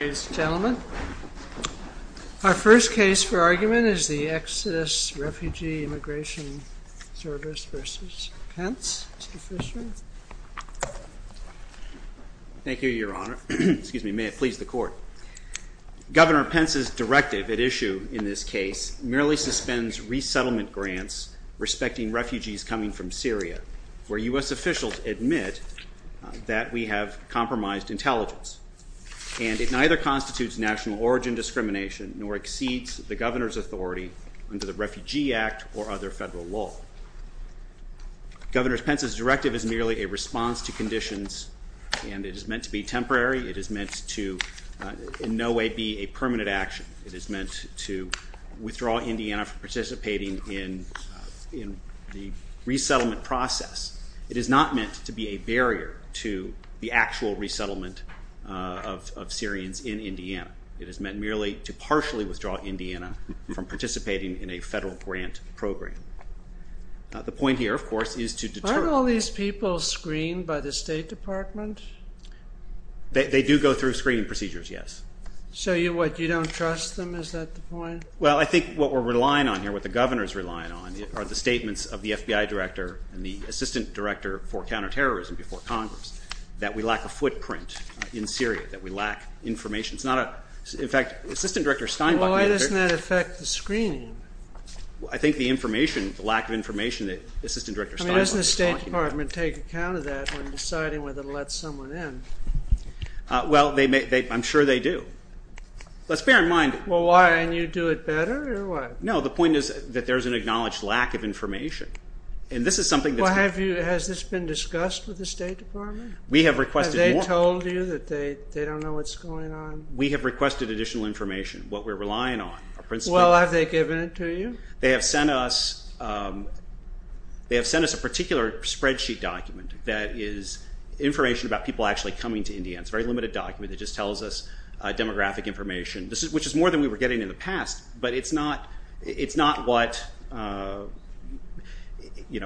Ladies and gentlemen, our first case for argument is the Exodus Refugee Immigration Service v. Pence. Mr. Fishman. Thank you, Your Honor. May it please the Court. Governor Pence's directive at issue in this case merely suspends resettlement grants respecting refugees coming from Syria, where U.S. officials admit that we have compromised intelligence, and it neither constitutes national origin discrimination nor exceeds the Governor's authority under the Refugee Act or other federal law. Governor Pence's directive is merely a response to conditions, and it is meant to be temporary. It is meant to in no way be a permanent action. It is meant to withdraw Indiana from participating in the resettlement process. It is not meant to be a barrier to the actual resettlement of Syrians in Indiana. It is meant merely to partially withdraw Indiana from participating in a federal grant program. The point here, of course, is to deter— Aren't all these people screened by the State Department? They do go through screening procedures, yes. So what, you don't trust them? Is that the point? Well, I think what we're relying on here, what the Governor's relying on, are the statements of the FBI Director and the Assistant Director for Counterterrorism before Congress, that we lack a footprint in Syria, that we lack information. It's not a—in fact, Assistant Director Steinbach— Well, why doesn't that affect the screening? I think the information, the lack of information that Assistant Director Steinbach is talking about— I mean, doesn't the State Department take account of that when deciding whether to let someone in? Well, I'm sure they do. Let's bear in mind— Well, why? And you do it better, or what? No, the point is that there's an acknowledged lack of information. And this is something that's— Well, has this been discussed with the State Department? We have requested— Have they told you that they don't know what's going on? We have requested additional information, what we're relying on. Well, have they given it to you? They have sent us a particular spreadsheet document that is information about people actually coming to India. It's a very limited document. It just tells us demographic information, which is more than we were getting in the past. But it's not what—you know,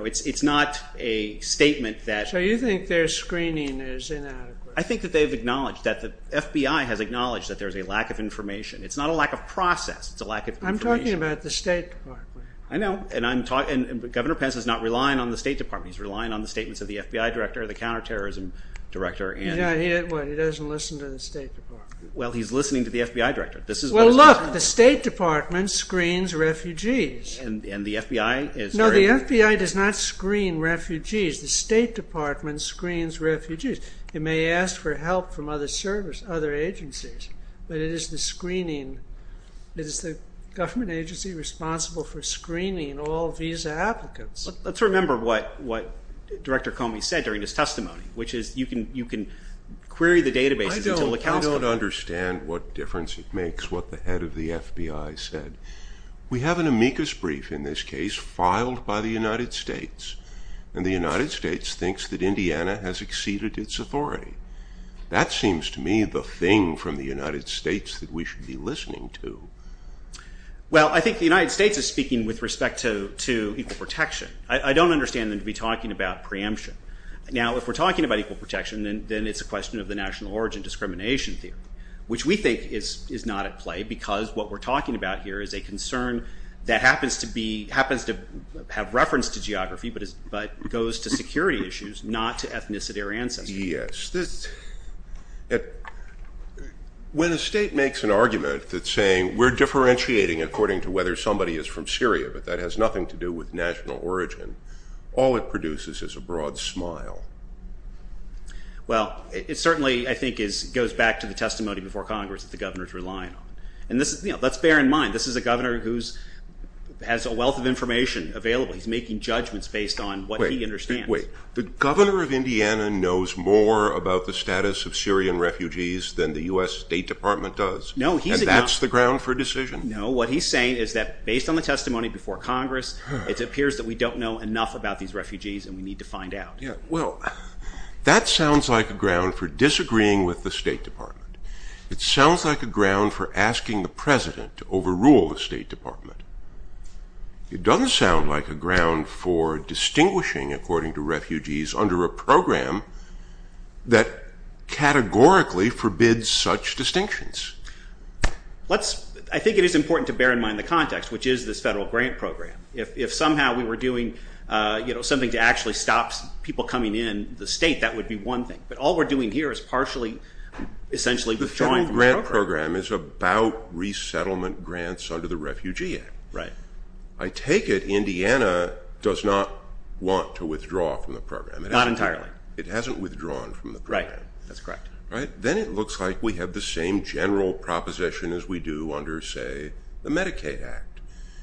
it's not a statement that— So you think their screening is inadequate? I think that they've acknowledged that the FBI has acknowledged that there's a lack of information. It's not a lack of process. It's a lack of information. I'm talking about the State Department. I know. And I'm talking—Governor Pence is not relying on the State Department. He's relying on the statements of the FBI director, the counterterrorism director, and— Yeah, he doesn't listen to the State Department. Well, he's listening to the FBI director. Well, look, the State Department screens refugees. And the FBI is— No, the FBI does not screen refugees. The State Department screens refugees. It may ask for help from other services, other agencies, but it is the screening—it is the government agency responsible for screening all visa applicants. Let's remember what Director Comey said during his testimony, which is you can query the databases until the counsel— I don't understand what difference it makes what the head of the FBI said. We have an amicus brief in this case filed by the United States, and the United States thinks that Indiana has exceeded its authority. That seems to me the thing from the United States that we should be listening to. Well, I think the United States is speaking with respect to equal protection. I don't understand them to be talking about preemption. Now, if we're talking about equal protection, then it's a question of the national origin discrimination theory, which we think is not at play because what we're talking about here is a concern that happens to be—happens to have reference to geography When a state makes an argument that's saying, we're differentiating according to whether somebody is from Syria, but that has nothing to do with national origin, all it produces is a broad smile. Well, it certainly, I think, goes back to the testimony before Congress that the governor is relying on. And let's bear in mind, this is a governor who has a wealth of information available. He's making judgments based on what he understands. Wait, the governor of Indiana knows more about the status of Syrian refugees than the U.S. State Department does. No, he's— And that's the ground for decision. No, what he's saying is that based on the testimony before Congress, it appears that we don't know enough about these refugees and we need to find out. Well, that sounds like a ground for disagreeing with the State Department. It sounds like a ground for asking the president to overrule the State Department. It doesn't sound like a ground for distinguishing, according to refugees, under a program that categorically forbids such distinctions. I think it is important to bear in mind the context, which is this federal grant program. If somehow we were doing something to actually stop people coming in the state, that would be one thing. But all we're doing here is partially essentially withdrawing from the program. The federal grant program is about resettlement grants under the Refugee Act. I take it Indiana does not want to withdraw from the program. Not entirely. It hasn't withdrawn from the program. That's correct. Then it looks like we have the same general proposition as we do under, say, the Medicaid Act.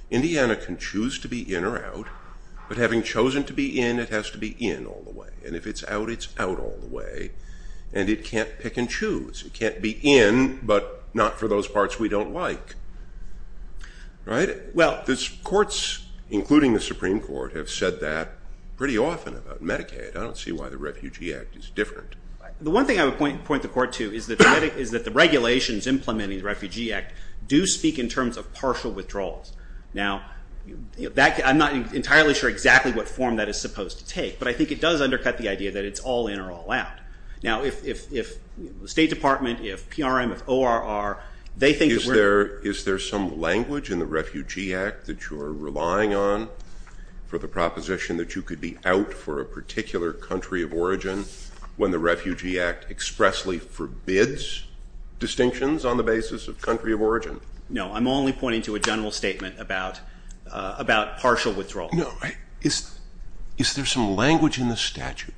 Indiana can choose to be in or out, but having chosen to be in, it has to be in all the way. And if it's out, it's out all the way. And it can't pick and choose. It can't be in but not for those parts we don't like. Well, courts, including the Supreme Court, have said that pretty often about Medicaid. I don't see why the Refugee Act is different. The one thing I would point the Court to is that the regulations implementing the Refugee Act do speak in terms of partial withdrawals. Now, I'm not entirely sure exactly what form that is supposed to take, but I think it does undercut the idea that it's all in or all out. Now, if the State Department, if PRM, if ORR, they think that we're Is there some language in the Refugee Act that you're relying on for the proposition that you could be out for a particular country of origin when the Refugee Act expressly forbids distinctions on the basis of country of origin? No, I'm only pointing to a general statement about partial withdrawal. No, is there some language in the statute?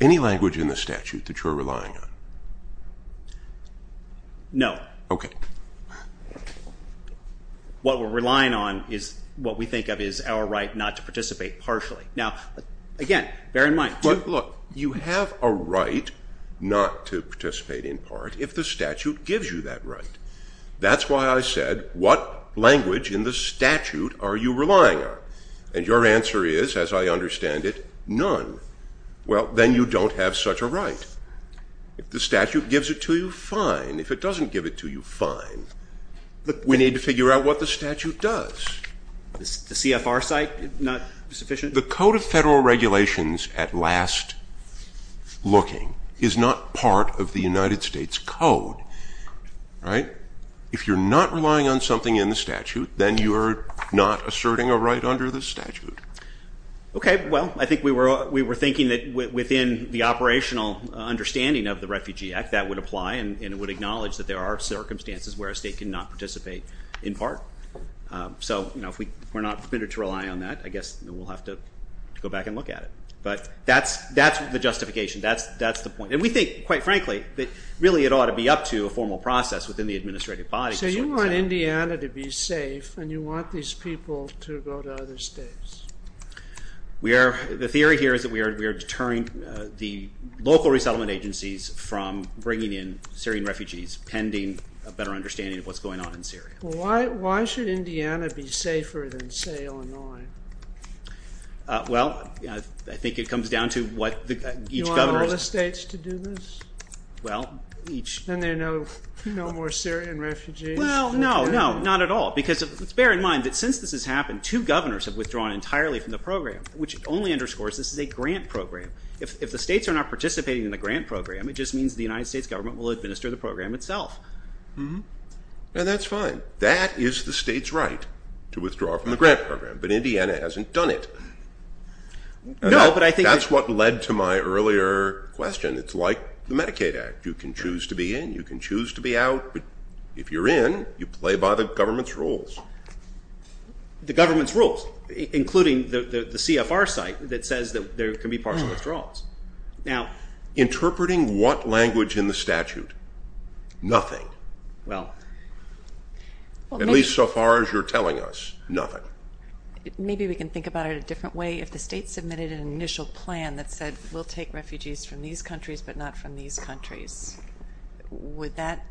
Any language in the statute that you're relying on? No. Okay. What we're relying on is what we think of as our right not to participate partially. Now, again, bear in mind. Look, you have a right not to participate in part if the statute gives you that right. That's why I said, what language in the statute are you relying on? And your answer is, as I understand it, none. Well, then you don't have such a right. If the statute gives it to you, fine. If it doesn't give it to you, fine. But we need to figure out what the statute does. Is the CFR site not sufficient? The Code of Federal Regulations, at last looking, is not part of the United States Code. If you're not relying on something in the statute, then you're not asserting a right under the statute. Okay. Well, I think we were thinking that within the operational understanding of the Refugee Act that would apply and would acknowledge that there are circumstances where a state cannot participate in part. So if we're not permitted to rely on that, I guess we'll have to go back and look at it. But that's the justification. That's the point. And we think, quite frankly, that really it ought to be up to a formal process within the administrative body. So you want Indiana to be safe and you want these people to go to other states? The theory here is that we are deterring the local resettlement agencies from bringing in Syrian refugees pending a better understanding of what's going on in Syria. Why should Indiana be safer than, say, Illinois? Well, I think it comes down to what each governor's Is there enough states to do this? Well, each. Then there are no more Syrian refugees. Well, no, no, not at all. Because bear in mind that since this has happened, two governors have withdrawn entirely from the program, which only underscores this is a grant program. If the states are not participating in the grant program, it just means the United States government will administer the program itself. And that's fine. That is the state's right to withdraw from the grant program. But Indiana hasn't done it. No, that's what led to my earlier question. It's like the Medicaid Act. You can choose to be in. You can choose to be out. But if you're in, you play by the government's rules. The government's rules, including the CFR site that says that there can be partial withdrawals. Now, interpreting what language in the statute? Nothing. At least so far as you're telling us, nothing. Maybe we can think about it a different way. If the state submitted an initial plan that said we'll take refugees from these countries but not from these countries, would that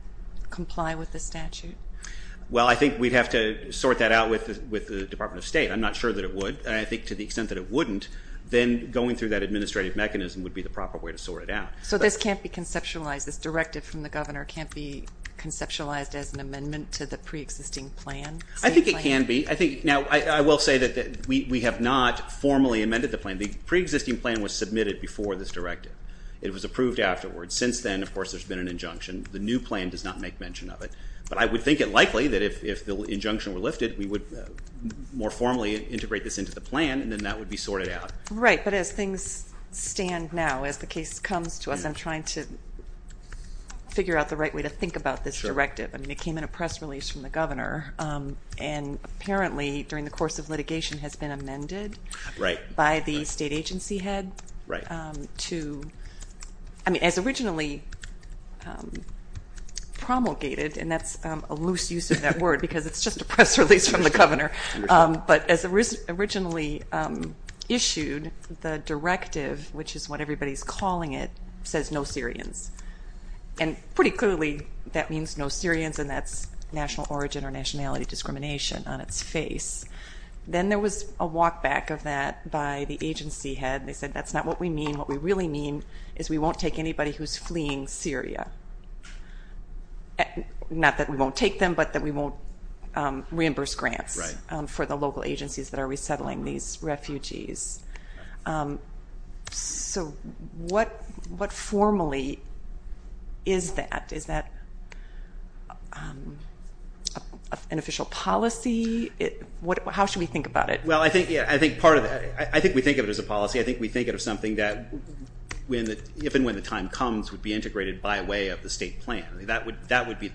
comply with the statute? Well, I think we'd have to sort that out with the Department of State. I'm not sure that it would. And I think to the extent that it wouldn't, then going through that administrative mechanism would be the proper way to sort it out. So this can't be conceptualized? This directive from the governor can't be conceptualized as an amendment to the preexisting plan? I think it can be. Now, I will say that we have not formally amended the plan. The preexisting plan was submitted before this directive. It was approved afterwards. Since then, of course, there's been an injunction. The new plan does not make mention of it. But I would think it likely that if the injunction were lifted, we would more formally integrate this into the plan, and then that would be sorted out. Right, but as things stand now, as the case comes to us, I'm trying to figure out the right way to think about this directive. I mean, it came in a press release from the governor. And apparently, during the course of litigation, has been amended by the state agency head to, I mean, as originally promulgated, and that's a loose use of that word because it's just a press release from the governor. But as originally issued, the directive, which is what everybody's calling it, says no Syrians. And pretty clearly, that means no Syrians, and that's national origin or nationality discrimination on its face. Then there was a walk back of that by the agency head. They said that's not what we mean. What we really mean is we won't take anybody who's fleeing Syria. Not that we won't take them, but that we won't reimburse grants for the local agencies that are resettling these refugees. So what formally is that? Is that an official policy? How should we think about it? Well, I think part of that, I think we think of it as a policy. I think we think of it as something that, if and when the time comes, would be integrated by way of the state plan. That would be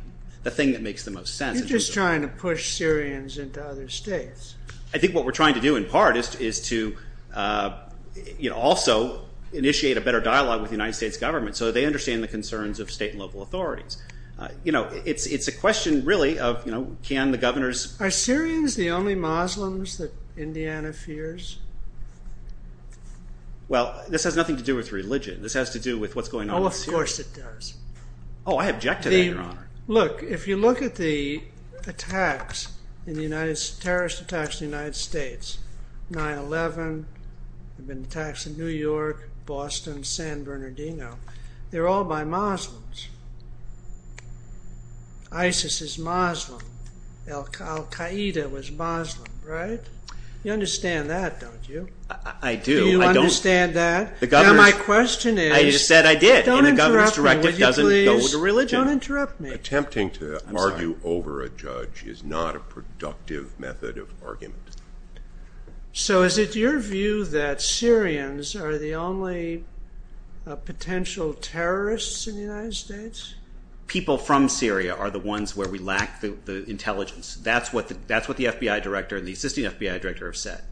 the thing that makes the most sense. You're just trying to push Syrians into other states. I think what we're trying to do, in part, is to also initiate a better dialogue with the United States government so they understand the concerns of state and local authorities. It's a question, really, of can the governors… Are Syrians the only Muslims that Indiana fears? Well, this has nothing to do with religion. This has to do with what's going on in Syria. Oh, of course it does. Oh, I object to that, Your Honor. Look, if you look at the attacks, the terrorist attacks in the United States, 9-11, the attacks in New York, Boston, San Bernardino, they're all by Muslims. ISIS is Muslim. Al-Qaeda was Muslim, right? You understand that, don't you? I do. Do you understand that? I said I did. Don't interrupt me, will you please? In the governor's directive, it doesn't go with religion. Don't interrupt me. Attempting to argue over a judge is not a productive method of argument. So is it your view that Syrians are the only potential terrorists in the United States? People from Syria are the ones where we lack the intelligence. That's what the FBI director and the assisting FBI director have said.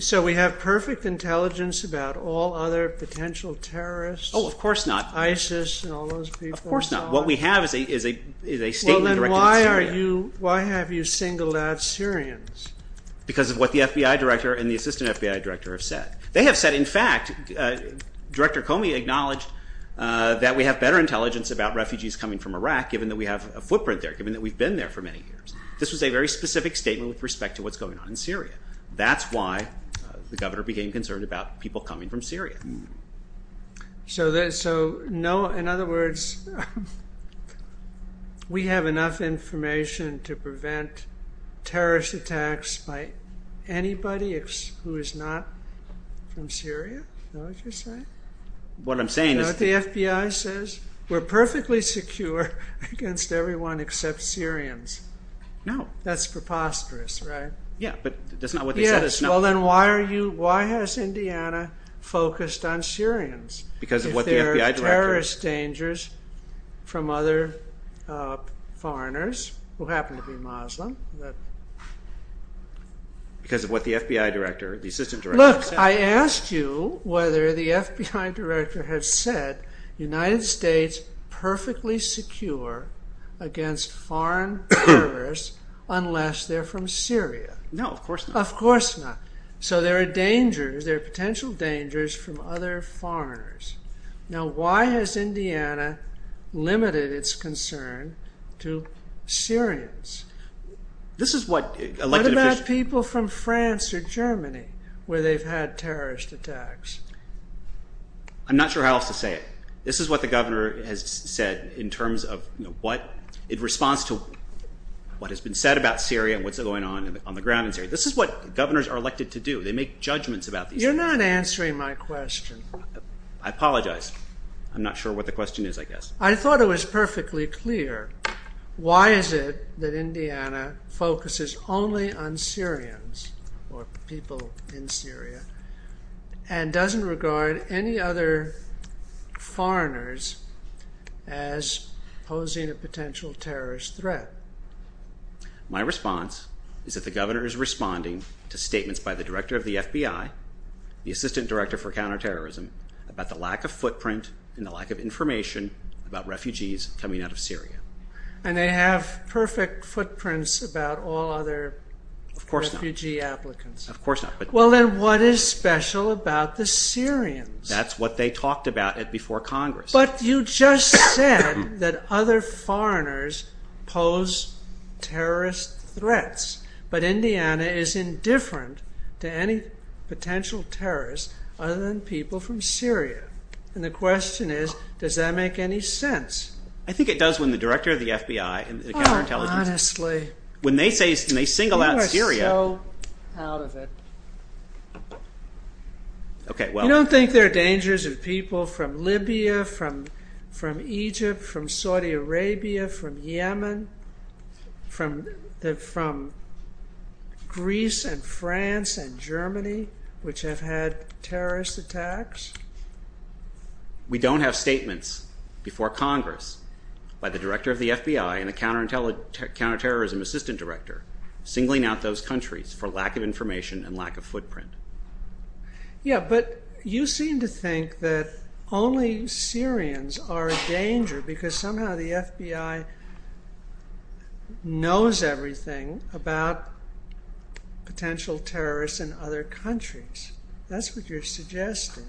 So we have perfect intelligence about all other potential terrorists? Oh, of course not. ISIS and all those people? Of course not. What we have is a statement directed at Syria. Well, then why have you singled out Syrians? Because of what the FBI director and the assisting FBI director have said. They have said, in fact, Director Comey acknowledged that we have better intelligence about refugees coming from Iraq given that we have a footprint there, given that we've been there for many years. This was a very specific statement with respect to what's going on in Syria. That's why the governor became concerned about people coming from Syria. So in other words, we have enough information to prevent terrorist attacks by anybody who is not from Syria? Is that what you're saying? What I'm saying is... You know what the FBI says? We're perfectly secure against everyone except Syrians. No. That's preposterous, right? Yeah, but that's not what they said. Well, then why has Indiana focused on Syrians? Because of what the FBI director... If there are terrorist dangers from other foreigners who happen to be Muslim. Because of what the FBI director, the assistant director... Look, I asked you whether the FBI director had said the United States is perfectly secure against foreign terrorists unless they're from Syria. No, of course not. Of course not. So there are dangers. There are potential dangers from other foreigners. Now, why has Indiana limited its concern to Syrians? This is what elected officials... What about people from France or Germany where they've had terrorist attacks? I'm not sure how else to say it. This is what the governor has said in response to what has been said about Syria and what's going on on the ground in Syria. This is what governors are elected to do. They make judgments about these things. You're not answering my question. I apologize. I'm not sure what the question is, I guess. I thought it was perfectly clear. Why is it that Indiana focuses only on Syrians or people in Syria and doesn't regard any other foreigners as posing a potential terrorist threat? My response is that the governor is responding to statements by the director of the FBI, the assistant director for counterterrorism, about the lack of footprint and the lack of information about refugees coming out of Syria. And they have perfect footprints about all other refugee applicants. Of course not. Well, then what is special about the Syrians? That's what they talked about before Congress. But you just said that other foreigners pose terrorist threats. But Indiana is indifferent to any potential terrorists other than people from Syria. And the question is, does that make any sense? I think it does when the director of the FBI and the counterintelligence Oh, honestly. When they single out Syria You are so out of it. You don't think there are dangers of people from Libya, from Egypt, from Saudi Arabia, from Yemen, from Greece and France and Germany, which have had terrorist attacks? We don't have statements before Congress by the director of the FBI and the counterterrorism assistant director singling out those countries for lack of information and lack of footprint. Yeah, but you seem to think that only Syrians are a danger because somehow the FBI knows everything about potential terrorists in other countries. That's what you're suggesting.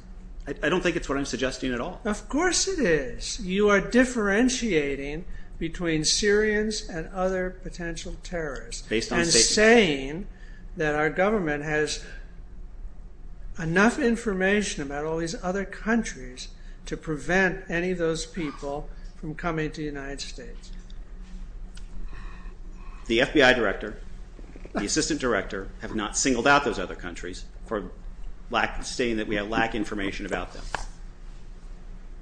I don't think it's what I'm suggesting at all. Of course it is. You are differentiating between Syrians and other potential terrorists and saying that our government has enough information about all these other countries to prevent any of those people from coming to the United States. The FBI director, the assistant director, have not singled out those other countries for stating that we have lack of information about them.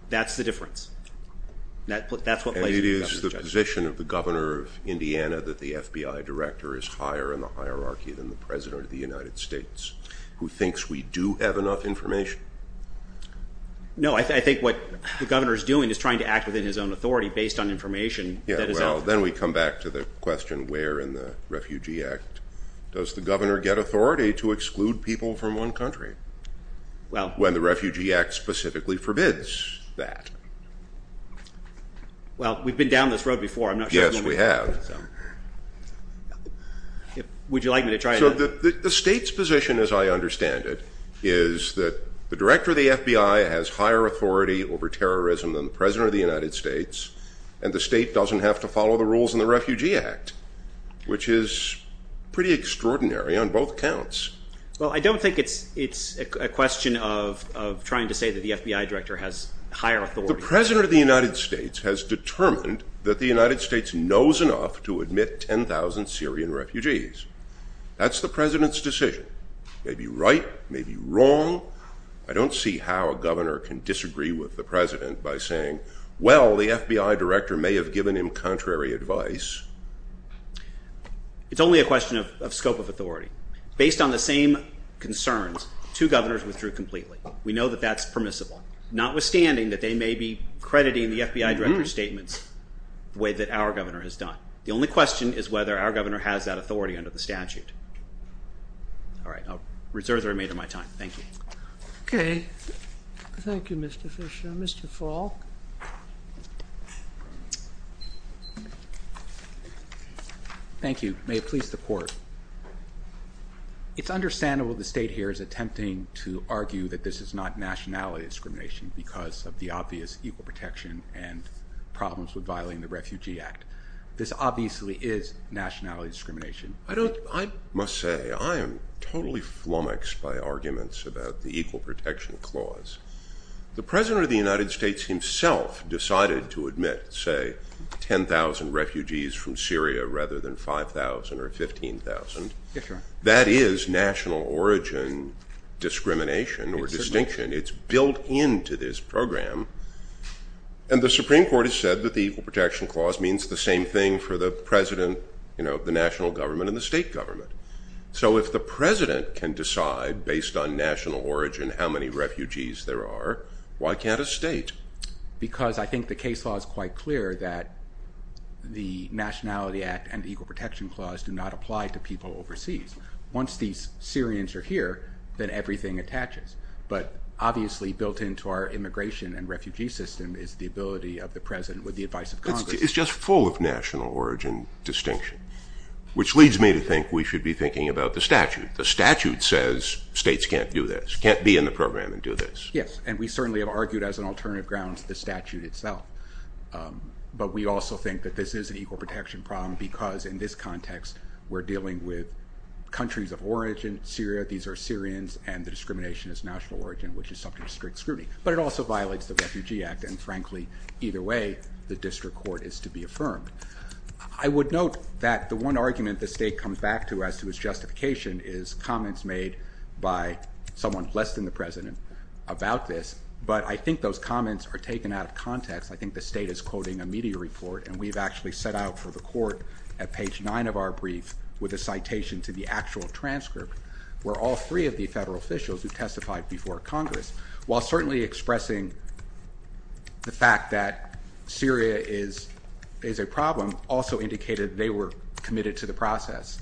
That's the difference. And it is the position of the governor of Indiana that the FBI director is higher in the hierarchy than the president of the United States, who thinks we do have enough information. No, I think what the governor is doing is trying to act within his own authority based on information. Yeah, well, then we come back to the question, where in the Refugee Act does the governor get authority to exclude people from one country when the Refugee Act specifically forbids that? Well, we've been down this road before. Yes, we have. Would you like me to try again? The state's position, as I understand it, is that the director of the FBI has higher authority over terrorism than the president of the United States, and the state doesn't have to follow the rules in the Refugee Act, which is pretty extraordinary on both counts. Well, I don't think it's a question of trying to say that the FBI director has higher authority. The president of the United States has determined that the United States knows enough to admit 10,000 Syrian refugees. That's the president's decision. It may be right, it may be wrong. I don't see how a governor can disagree with the president by saying, well, the FBI director may have given him contrary advice. It's only a question of scope of authority. Based on the same concerns, two governors withdrew completely. We know that that's permissible, notwithstanding that they may be crediting the FBI director's statements the way that our governor has done. The only question is whether our governor has that authority under the statute. All right, I'll reserve the remainder of my time. Thank you. Okay. Thank you, Mr. Fisher. Mr. Falk. Thank you. May it please the Court. It's understandable the state here is attempting to argue that this is not nationality discrimination because of the obvious equal protection and problems with violating the Refugee Act. This obviously is nationality discrimination. I must say I am totally flummoxed by arguments about the equal protection clause. The president of the United States himself decided to admit, say, 10,000 refugees from Syria rather than 5,000 or 15,000. That is national origin discrimination or distinction. It's built into this program. And the Supreme Court has said that the equal protection clause means the same thing for the president of the national government and the state government. So if the president can decide, based on national origin, how many refugees there are, why can't a state? Because I think the case law is quite clear that the nationality act and the equal protection clause do not apply to people overseas. Once these Syrians are here, then everything attaches. But obviously built into our immigration and refugee system is the ability of the president with the advice of Congress. It's just full of national origin distinction, which leads me to think we should be thinking about the statute. The statute says states can't do this, can't be in the program and do this. Yes, and we certainly have argued as an alternative ground to the statute itself. But we also think that this is an equal protection problem because in this context we're dealing with countries of origin. Syria, these are Syrians, and the discrimination is national origin, which is subject to strict scrutiny. But it also violates the Refugee Act, and frankly, either way, the district court is to be affirmed. I would note that the one argument the state comes back to as to its justification is comments made by someone less than the president about this, but I think those comments are taken out of context. I think the state is quoting a media report, and we've actually set out for the court at page 9 of our brief with a citation to the actual transcript where all three of the federal officials who testified before Congress, while certainly expressing the fact that Syria is a problem, also indicated they were committed to the process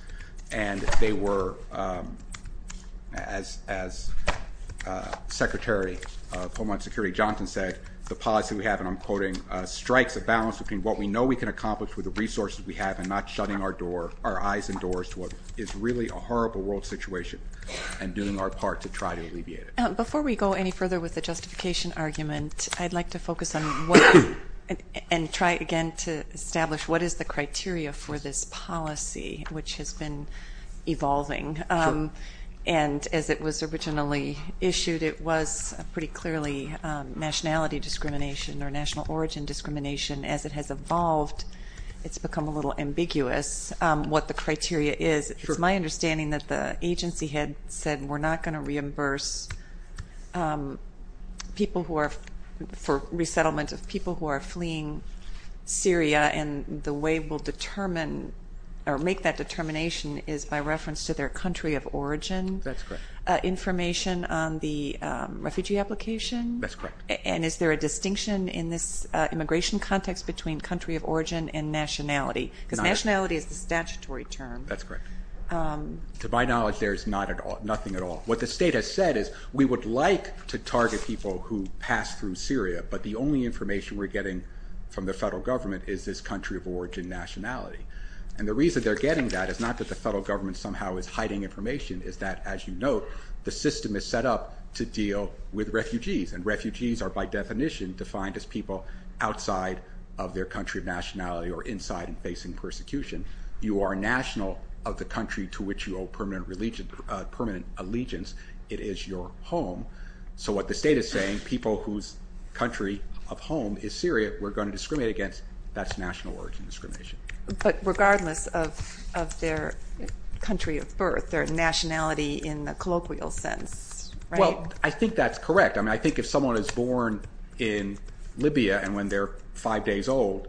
and they were, as Secretary of Homeland Security Johnson said, the policy we have, and I'm quoting, strikes a balance between what we know we can accomplish with the resources we have and not shutting our eyes and doors to what is really a horrible world situation and doing our part to try to alleviate it. Before we go any further with the justification argument, I'd like to focus on and try again to establish what is the criteria for this policy which has been evolving. And as it was originally issued, it was pretty clearly nationality discrimination or national origin discrimination. As it has evolved, it's become a little ambiguous what the criteria is. It's my understanding that the agency had said we're not going to reimburse people for resettlement of people who are fleeing Syria and the way we'll determine or make that determination is by reference to their country of origin. That's correct. Information on the refugee application. That's correct. And is there a distinction in this immigration context between country of origin and nationality? Because nationality is the statutory term. That's correct. To my knowledge, there is nothing at all. What the state has said is we would like to target people who pass through Syria, but the only information we're getting from the federal government is this country of origin nationality. And the reason they're getting that is not that the federal government somehow is hiding information. It's that, as you note, the system is set up to deal with refugees, and refugees are by definition defined as people outside of their country of nationality or inside and facing persecution. You are national of the country to which you owe permanent allegiance. It is your home. So what the state is saying, people whose country of home is Syria we're going to discriminate against, that's national origin discrimination. But regardless of their country of birth, their nationality in the colloquial sense, right? Well, I think that's correct. I mean, I think if someone is born in Libya and when they're 5 days old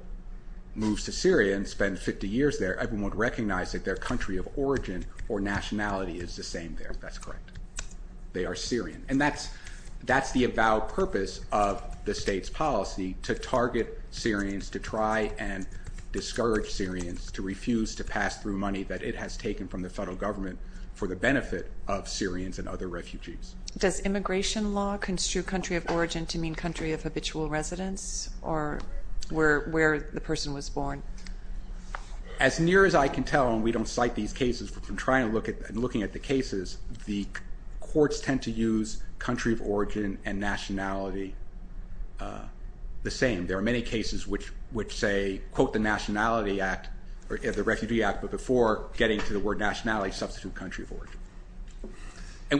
moves to Syria and spends 50 years there, everyone would recognize that their country of origin or nationality is the same there. That's correct. They are Syrian. And that's the avowed purpose of the state's policy, to target Syrians, to try and discourage Syrians to refuse to pass through money that it has taken from the federal government for the benefit of Syrians and other refugees. Does immigration law construe country of origin to mean country of habitual residence or where the person was born? As near as I can tell, and we don't cite these cases, but from trying and looking at the cases, the courts tend to use country of origin and nationality the same. There are many cases which say, quote the Nationality Act, or the Refugee Act, but before getting to the word nationality, substitute country of origin,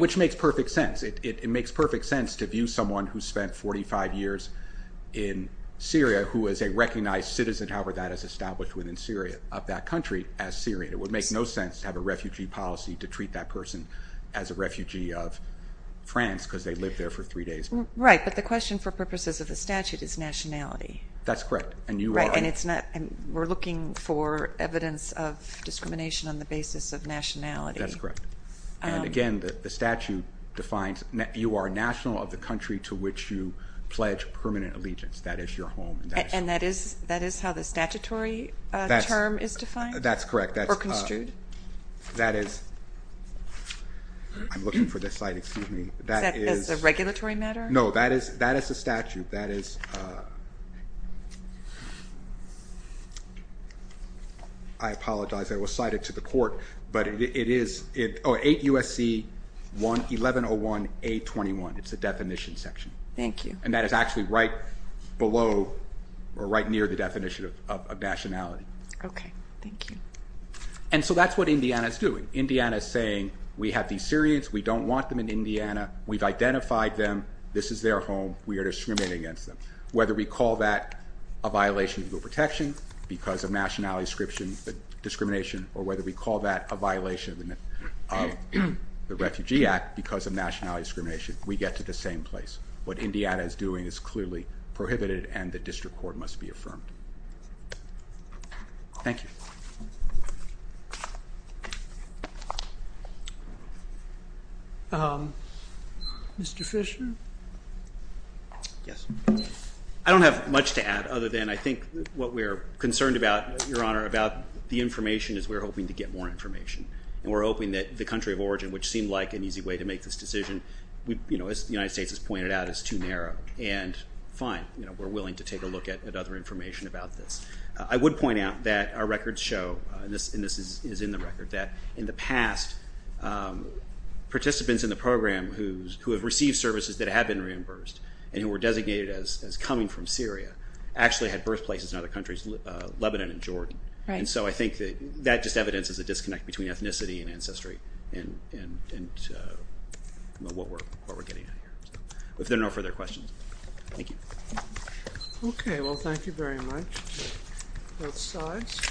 which makes perfect sense. It makes perfect sense to view someone who spent 45 years in Syria who is a recognized citizen, however that is established within Syria, of that country as Syrian. It would make no sense to have a refugee policy to treat that person as a refugee of France because they lived there for three days. Right, but the question for purposes of the statute is nationality. That's correct. Right, and we're looking for evidence of discrimination on the basis of nationality. That's correct. And again, the statute defines you are national of the country to which you pledge permanent allegiance. That is your home. And that is how the statutory term is defined? That's correct. Or construed? That is, I'm looking for the site, excuse me. Is that a regulatory matter? No, that is a statute. That is, I apologize, I was cited to the court, but it is 8 USC 1101A21. It's the definition section. Thank you. And that is actually right below or right near the definition of nationality. Okay, thank you. And so that's what Indiana is doing. Indiana is saying we have these Syrians, we don't want them in Indiana, we've identified them, this is their home, we are discriminating against them. Whether we call that a violation of legal protection because of nationality discrimination or whether we call that a violation of the Refugee Act because of nationality discrimination, we get to the same place. What Indiana is doing is clearly prohibited and the district court must be affirmed. Thank you. Mr. Fisher? Yes. I don't have much to add other than I think what we're concerned about, Your Honor, about the information is we're hoping to get more information. And we're hoping that the country of origin, which seemed like an easy way to make this decision, as the United States has pointed out, is too narrow. And fine, we're willing to take a look at other information about this. I would point out that our records show, and this is in the record, that in the past participants in the program who have received services that have been reimbursed and who were designated as coming from Syria actually had birthplaces in other countries, Lebanon and Jordan. And so I think that just evidences a disconnect between ethnicity and ancestry and what we're getting at here. If there are no further questions. Thank you. Okay. Well, thank you very much. Both sides.